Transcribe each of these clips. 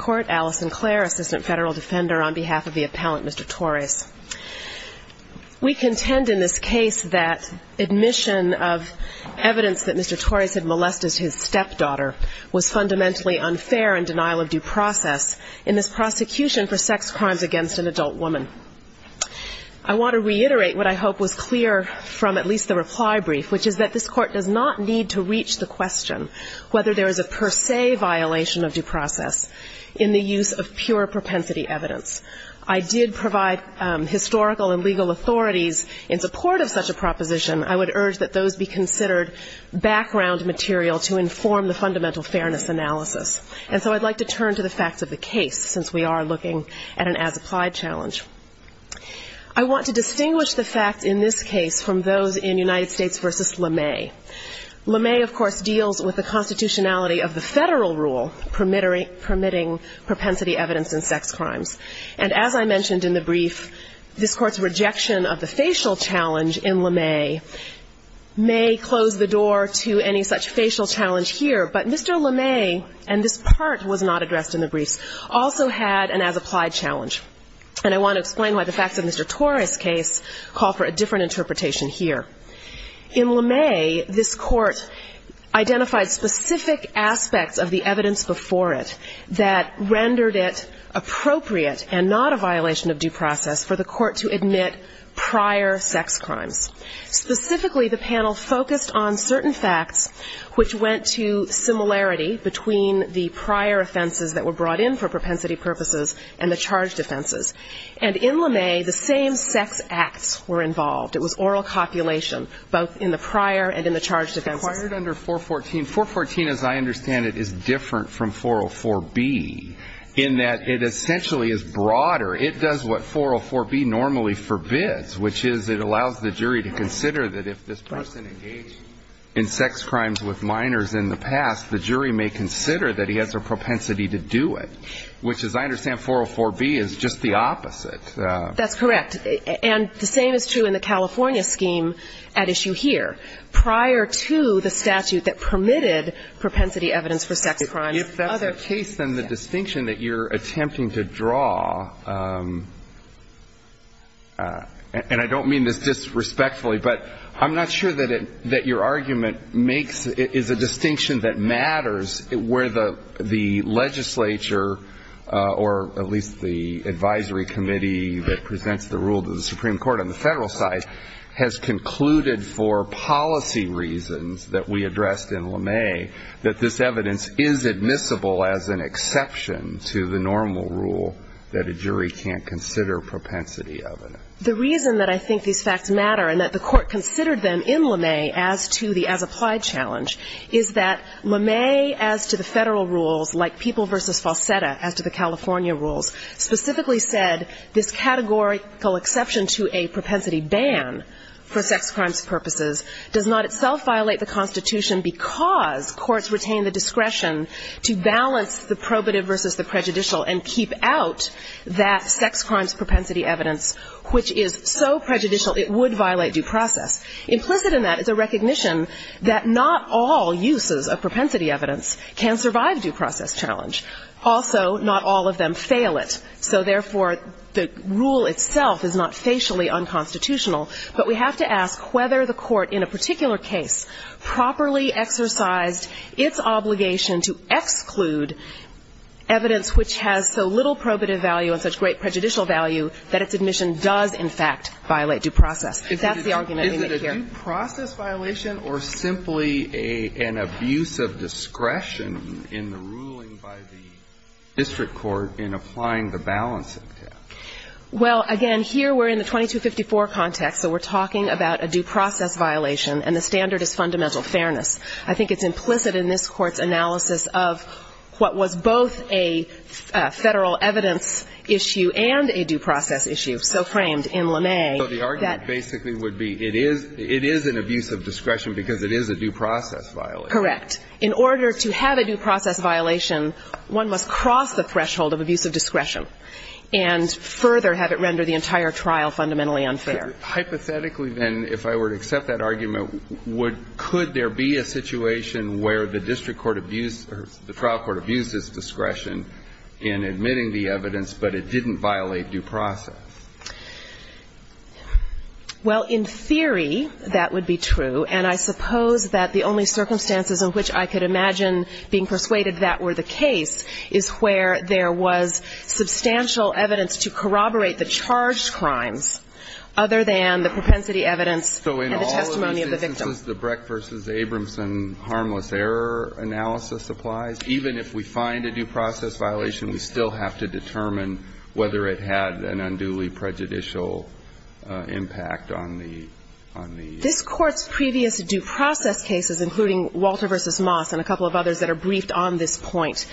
court, Alice Sinclair, Assistant Federal Defender, on behalf of the appellant, Mr. Torres. We contend in this case that admission of evidence that Mr. Torres had molested his stepdaughter was fundamentally unfair in denial of due process in this prosecution for sex crimes against an adult woman. I want to reiterate what I hope was clear from at least the reply brief, which is that this court does not need to reach the question whether there is a per or non-denialation of due process in the use of pure propensity evidence. I did provide historical and legal authorities in support of such a proposition. I would urge that those be considered background material to inform the fundamental fairness analysis. And so I'd like to turn to the facts of the case, since we are looking at an as-applied challenge. I want to distinguish the facts in this case from those in United States v. LeMay. LeMay, of course, is a legal, permitting propensity evidence in sex crimes. And as I mentioned in the brief, this court's rejection of the facial challenge in LeMay may close the door to any such facial challenge here. But Mr. LeMay, and this part was not addressed in the briefs, also had an as-applied challenge. And I want to explain why the facts of Mr. Torres' case call for a different interpretation here. In LeMay, this court identified specific aspects of the evidence-based process before it that rendered it appropriate and not a violation of due process for the court to admit prior sex crimes. Specifically, the panel focused on certain facts which went to similarity between the prior offenses that were brought in for propensity purposes and the charged offenses. And in LeMay, the same sex acts were involved. It was oral copulation, both in the prior and in the charged offenses. Breyer. Acquired under 414. 414, as I understand it, is different from 404B in that it essentially is broader. It does what 404B normally forbids, which is it allows the jury to consider that if this person engaged in sex crimes with minors in the past, the jury may consider that he has a propensity to do it, which, as I understand, 404B is just the opposite. LeMay. That's correct. And the same is true in the California scheme at issue here. Prior to the statute that permitted propensity evidence for sex crimes. Breyer. If that's the case, then the distinction that you're attempting to draw, and I don't mean this disrespectfully, but I'm not sure that it – that your argument makes – is a distinction that matters where the legislature or at least the advisory committee that presents the rule to the Supreme Court on the Federal side has concluded for policy reasons that we addressed in LeMay that this evidence is admissible as an exception to the normal rule that a jury can't consider propensity evidence. LeMay. The reason that I think these facts matter and that the Court considered them in LeMay as to the as-applied challenge is that LeMay, as to the Federal rules like People v. Falsetta, as to the California rules, specifically said this categorical exception to a propensity ban for sex crimes purposes does not itself violate the Constitution because courts retain the discretion to balance the probative versus the prejudicial and keep out that sex crimes propensity evidence, which is so prejudicial it would violate due process. Implicit in that is a recognition that not all uses of propensity evidence can survive due process challenge. Also, not all of them fail it. So, therefore, the rule itself is not facially unconstitutional. But we have to ask whether the Court in a particular case properly exercised its obligation to exclude evidence which has so little probative value and such great prejudicial value that its admission does, in fact, violate due process. If that's the argument we make here. Is it a due process violation or simply an abuse of discretion in the ruling by the district court in applying the balancing test? Well, again, here we're in the 2254 context, so we're talking about a due process violation, and the standard is fundamental fairness. I think it's implicit in this Court's analysis of what was both a Federal evidence issue and a due process issue, so framed in LeMay. So the argument basically would be it is an abuse of discretion because it is a due process violation. Correct. In order to have a due process violation, one must cross the threshold of abuse of discretion and further have it render the entire trial fundamentally unfair. Hypothetically, then, if I were to accept that argument, could there be a situation where the district court abused or the trial court abused its discretion in admitting the evidence, but it didn't violate due process? Well, in theory, that would be true. And I suppose that the only circumstances in which I could imagine being persuaded that were the case is where there was substantial evidence to corroborate the charged crimes, other than the propensity evidence and the testimony of the victim. So in all instances, the Breck v. Abramson harmless error analysis applies? Even if we find a due process violation, we still have to determine whether it had an unduly prejudicial impact on the ---- This Court's previous due process cases, including Walter v. Moss and a couple of others that are briefed on this point,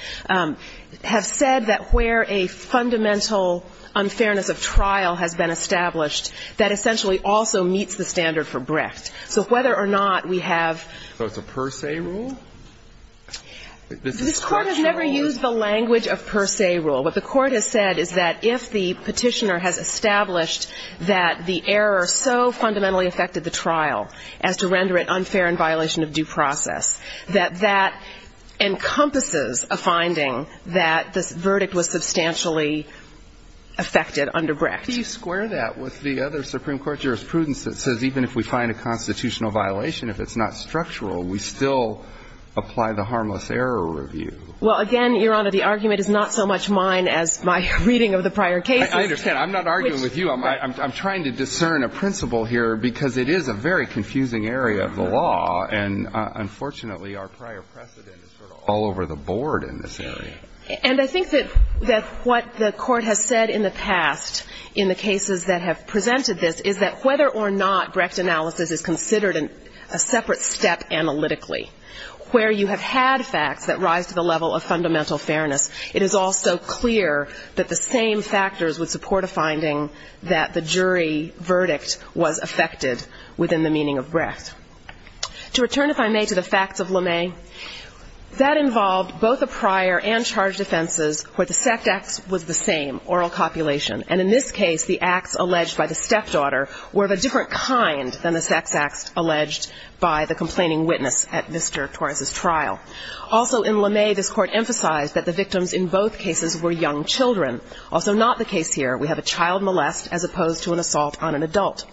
have said that where a fundamental unfairness of trial has been established, that essentially also meets the standard for Brecht. So whether or not we have ---- So it's a per se rule? This Court has never used the language of per se rule. What the Court has said is that if the petitioner has established that the error so fundamentally affected the trial as to render it unfair in violation of due process, that that encompasses a finding that this verdict was substantially affected under Brecht. Do you square that with the other Supreme Court jurisprudence that says even if we find a constitutional violation, if it's not structural, we still apply the harmless error review? Well, again, Your Honor, the argument is not so much mine as my reading of the prior cases. I understand. I'm not arguing with you. I'm trying to discern a principle here because it is a very confusing area of the law, and unfortunately, our prior precedent is sort of all over the board in this area. And I think that what the Court has said in the past in the cases that have presented this is that whether or not Brecht analysis is considered a separate step analytically, where you have had facts that rise to the level of fundamental fairness, it is also clear that the same factors would support a finding that the jury verdict was affected within the meaning of Brecht. To return, if I may, to the facts of LeMay, that involved both the prior and charged offenses where the sex acts was the same, oral copulation. And in this case, the acts alleged by the stepdaughter were of a different kind than the sex acts alleged by the complaining witness at Mr. Torres's trial. Also in LeMay, this Court emphasized that the victims in both cases were young children. Also not the case here, we have a child molest as opposed to an assault on an adult.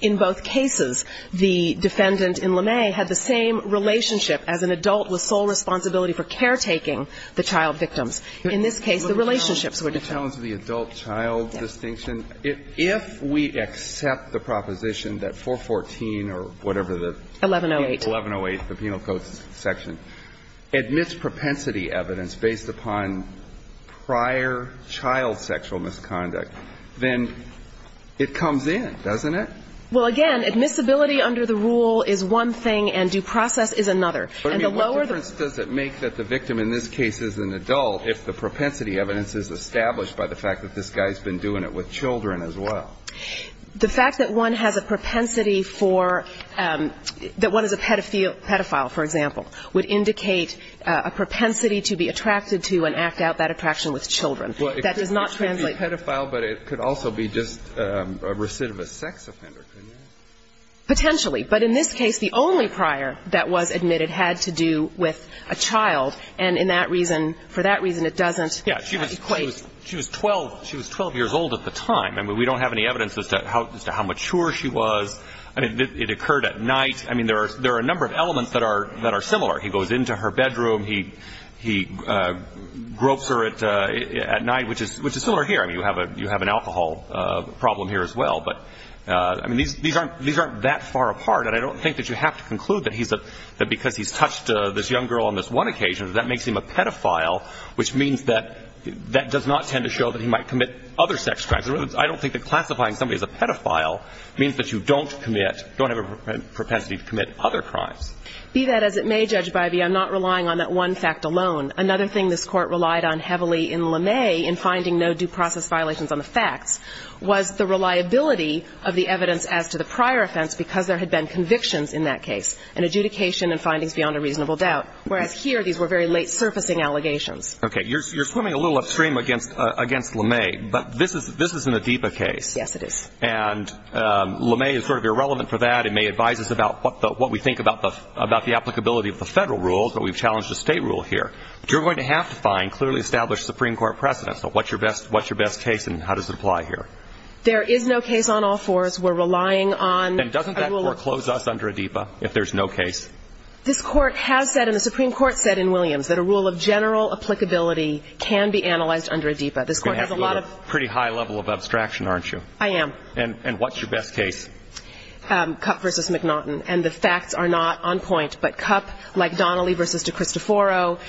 In both cases, the defendant in LeMay had the same relationship as an adult with sole responsibility for caretaking the child victims. In this case, the relationships were different. The challenge of the adult-child distinction, if we accept the proposition that 414 or whatever the ---- 1108. 1108, the Penal Code section, admits propensity evidence based upon prior child sexual misconduct, then it comes in, doesn't it? Well, again, admissibility under the rule is one thing and due process is another. And the lower the ---- What difference does it make that the victim in this case is an adult if the propensity evidence is established by the fact that this guy has been doing it with children as well? The fact that one has a propensity for ---- that one is a pedophile, for example, would indicate a propensity to be attracted to and act out that attraction with children. That does not translate ---- Well, it could be pedophile, but it could also be just a recidivist sex offender, couldn't it? Potentially. But in this case, the only prior that was admitted had to do with a child. And in that reason, for that reason, it doesn't ---- Yeah. She was 12 years old at the time. I mean, we don't have any evidence as to how mature she was. I mean, it occurred at night. I mean, there are a number of elements that are similar. He goes into her bedroom. He gropes her at night, which is similar here. I mean, you have an alcohol problem here as well. But, I mean, these aren't that far apart. And I don't think that you have to conclude that he's a ---- that because he's touched this young girl on this one occasion, that makes him a pedophile, which means that that does not tend to show that he might commit other sex crimes. I don't think that classifying somebody as a pedophile means that you don't commit ---- don't have a propensity to commit other crimes. Be that as it may, Judge Bivey, I'm not relying on that one fact alone. Another thing this Court relied on heavily in LeMay in finding no due process violations on the facts was the reliability of the evidence as to the prior offense because there had been convictions in that case and adjudication and findings beyond a reasonable doubt, whereas here these were very late surfacing allegations. Okay. You're swimming a little upstream against LeMay. But this is an ADEPA case. Yes, it is. And LeMay is sort of irrelevant for that. It may advise us about what we think about the applicability of the federal rules, but we've challenged the state rule here. But you're going to have to find clearly established Supreme Court precedents. So what's your best case and how does it apply here? There is no case on all fours. We're relying on federal---- And doesn't that foreclose us under ADEPA if there's no case? This Court has said, and the Supreme Court said in Williams, that a rule of general applicability can be analyzed under ADEPA. This Court has a lot of---- You're going to have to go to a pretty high level of abstraction, aren't you? I am. And what's your best case? Kupp v. McNaughton. And the facts are not on point, but Kupp, like Donnelly v. DeCristoforo,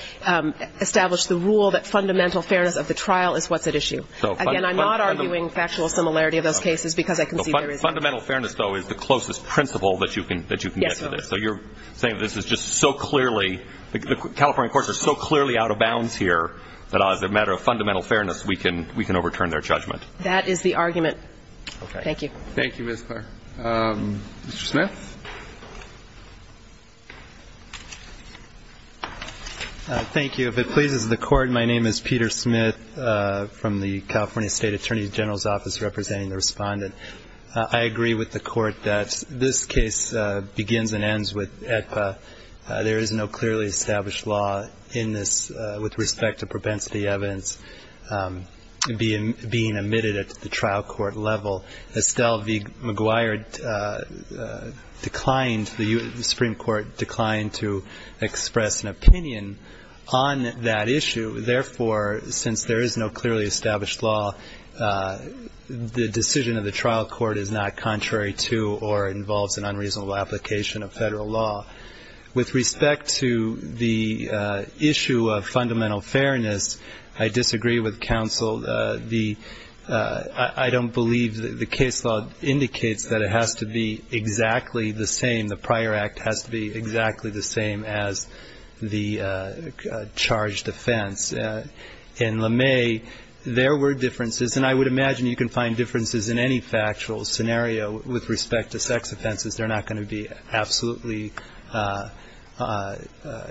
established the rule that fundamental fairness of the trial is what's at issue. Again, I'm not arguing factual similarity of those cases because I can see there is---- Fundamental fairness, though, is the closest principle that you can get to this. So you're saying this is just so clearly, the California courts are so clearly out of bounds here that as a matter of fundamental fairness, we can overturn their judgment. That is the argument. Okay. Thank you. Thank you, Ms. Clark. Mr. Smith? Thank you. If it pleases the Court, my name is Peter Smith from the California State Attorney General's Office representing the Respondent. I agree with the Court that this case begins and ends with AEDPA. There is no clearly established law in this with respect to propensity evidence being omitted at the trial court level. Estelle v. McGuire declined, the Supreme Court declined to express an opinion on that issue. Therefore, since there is no clearly established law, the decision of the trial court is not contrary to or involves an unreasonable application of federal law. With respect to the issue of fundamental fairness, I disagree with counsel. I don't believe the case law indicates that it has to be exactly the same, the prior act has to be exactly the same as the charged offense. In LeMay, there were differences, and I would imagine you can find differences in any factual scenario with respect to sex offenses. They're not going to be absolutely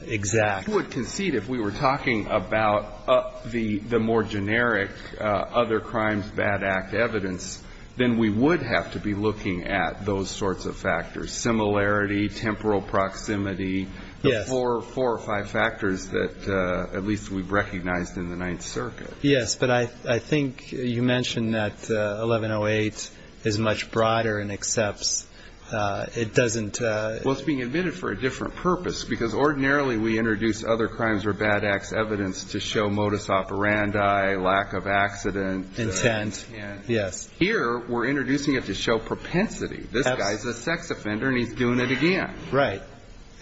exact. I would concede if we were talking about the more generic other crimes, bad act evidence, then we would have to be looking at those sorts of factors, similarity and temporal proximity, the four or five factors that at least we've recognized in the Ninth Circuit. Yes, but I think you mentioned that 1108 is much broader and accepts. Well, it's being omitted for a different purpose because ordinarily we introduce other crimes or bad acts evidence to show modus operandi, lack of accident. Intent, yes. Here, we're introducing it to show propensity. This guy's a sex offender and he's doing it again. Right,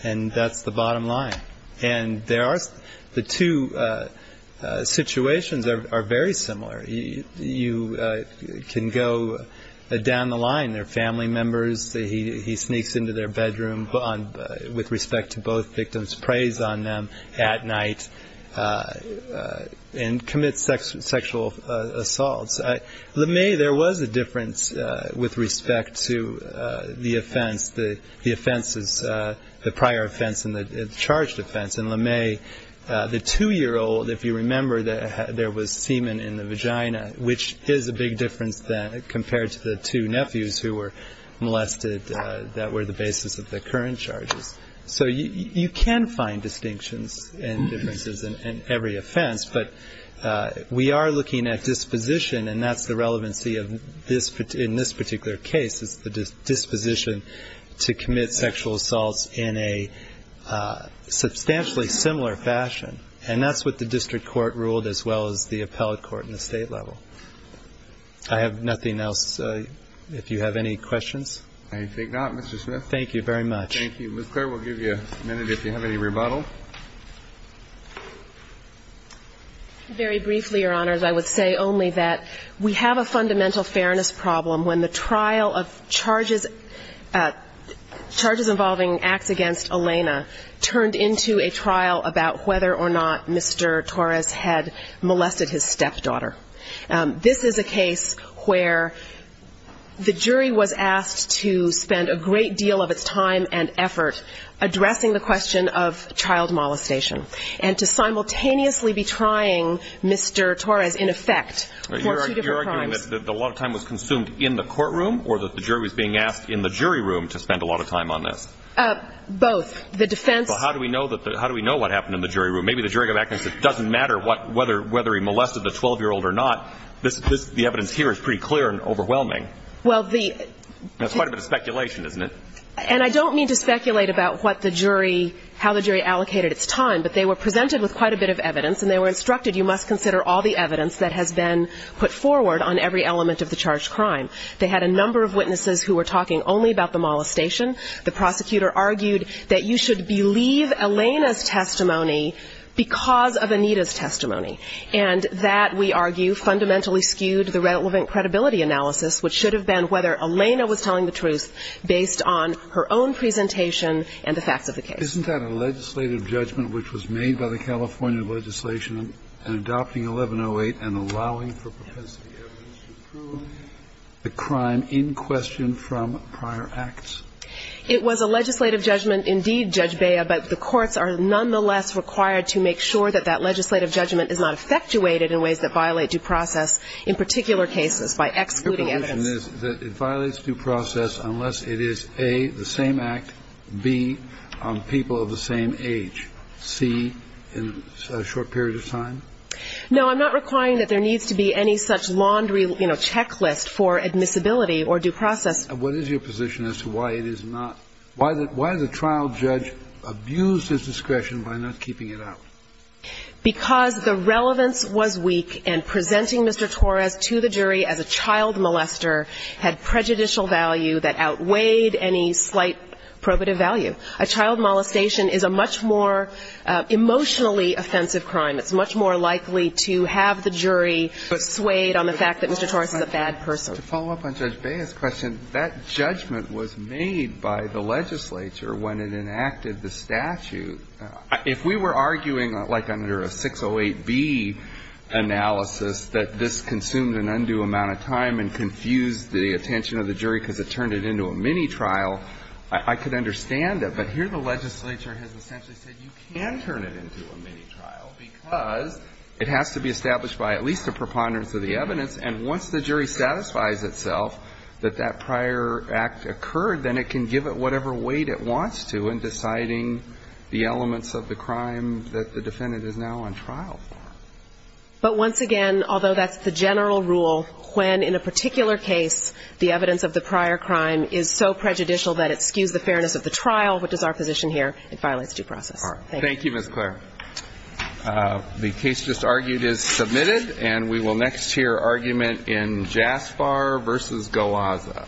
and that's the bottom line. And the two situations are very similar. You can go down the line. They're family members. He sneaks into their bedroom with respect to both victims, preys on them at night and commits sexual assaults. LeMay, there was a difference with respect to the offense. The offense is the prior offense and the charged offense. In LeMay, the two-year-old, if you remember, there was semen in the vagina, which is a big difference compared to the two nephews who were molested that were the basis of the current charges. So you can find distinctions and differences in every offense, but we are looking at disposition, and that's the relevancy in this particular case is the disposition to commit sexual assaults in a substantially similar fashion. And that's what the district court ruled as well as the appellate court and the state level. I have nothing else. If you have any questions. Thank you very much. Thank you. Ms. Clare, we'll give you a minute if you have any rebuttal. Very briefly, Your Honors, I would say only that we have a fundamental fairness problem when the trial of charges involving acts against Elena turned into a trial about whether or not Mr. Torres had molested his stepdaughter. This is a case where the jury was asked to spend a great deal of its time and effort addressing the question of child molestation and to simultaneously be trying Mr. Torres, in effect, for two different crimes. You're arguing that a lot of time was consumed in the courtroom or that the jury was being asked in the jury room to spend a lot of time on this? Both. The defense. Well, how do we know what happened in the jury room? Maybe the jury can go back and say it doesn't matter whether he molested the 12-year-old or not. The evidence here is pretty clear and overwhelming. That's quite a bit of speculation, isn't it? And I don't mean to speculate about how the jury allocated its time, but they were presented with quite a bit of evidence, and they were instructed you must consider all the evidence that has been put forward on every element of the charged crime. They had a number of witnesses who were talking only about the molestation. The prosecutor argued that you should believe Elena's testimony because of Anita's testimony. And that, we argue, fundamentally skewed the relevant credibility analysis, which should have been whether Elena was telling the truth based on her own presentation and the facts of the case. Isn't that a legislative judgment which was made by the California legislation in adopting 1108 and allowing for propensity evidence to prove the crime in question from prior acts? It was a legislative judgment, indeed, Judge Bea, but the courts are nonetheless required to make sure that that legislative judgment is not effectuated in ways that violate due process in particular cases by excluding evidence. Your position is that it violates due process unless it is, A, the same act, B, people of the same age, C, in a short period of time? No, I'm not requiring that there needs to be any such laundry, you know, checklist for admissibility or due process. What is your position as to why it is not? Why did the trial judge abuse his discretion by not keeping it out? Because the relevance was weak and presenting Mr. Torres to the jury as a child molester had prejudicial value that outweighed any slight probative value. A child molestation is a much more emotionally offensive crime. It's much more likely to have the jury swayed on the fact that Mr. Torres is a bad person. To follow up on Judge Bea's question, that judgment was made by the legislature when it enacted the statute. If we were arguing like under a 608B analysis that this consumed an undue amount of time and confused the attention of the jury because it turned it into a mini trial, I could understand it. But here the legislature has essentially said you can turn it into a mini trial because it has to be established by at least a preponderance of the evidence. And once the jury satisfies itself that that prior act occurred, then it can give it whatever weight it wants to in deciding the elements of the crime that the defendant is now on trial for. But once again, although that's the general rule, when in a particular case the evidence of the prior crime is so prejudicial that it skews the fairness of the trial, which is our position here, it violates due process. Thank you. Thank you, Ms. Clare. The case just argued is submitted. And we will next hear argument in JASPAR v. Goaza. Thank you.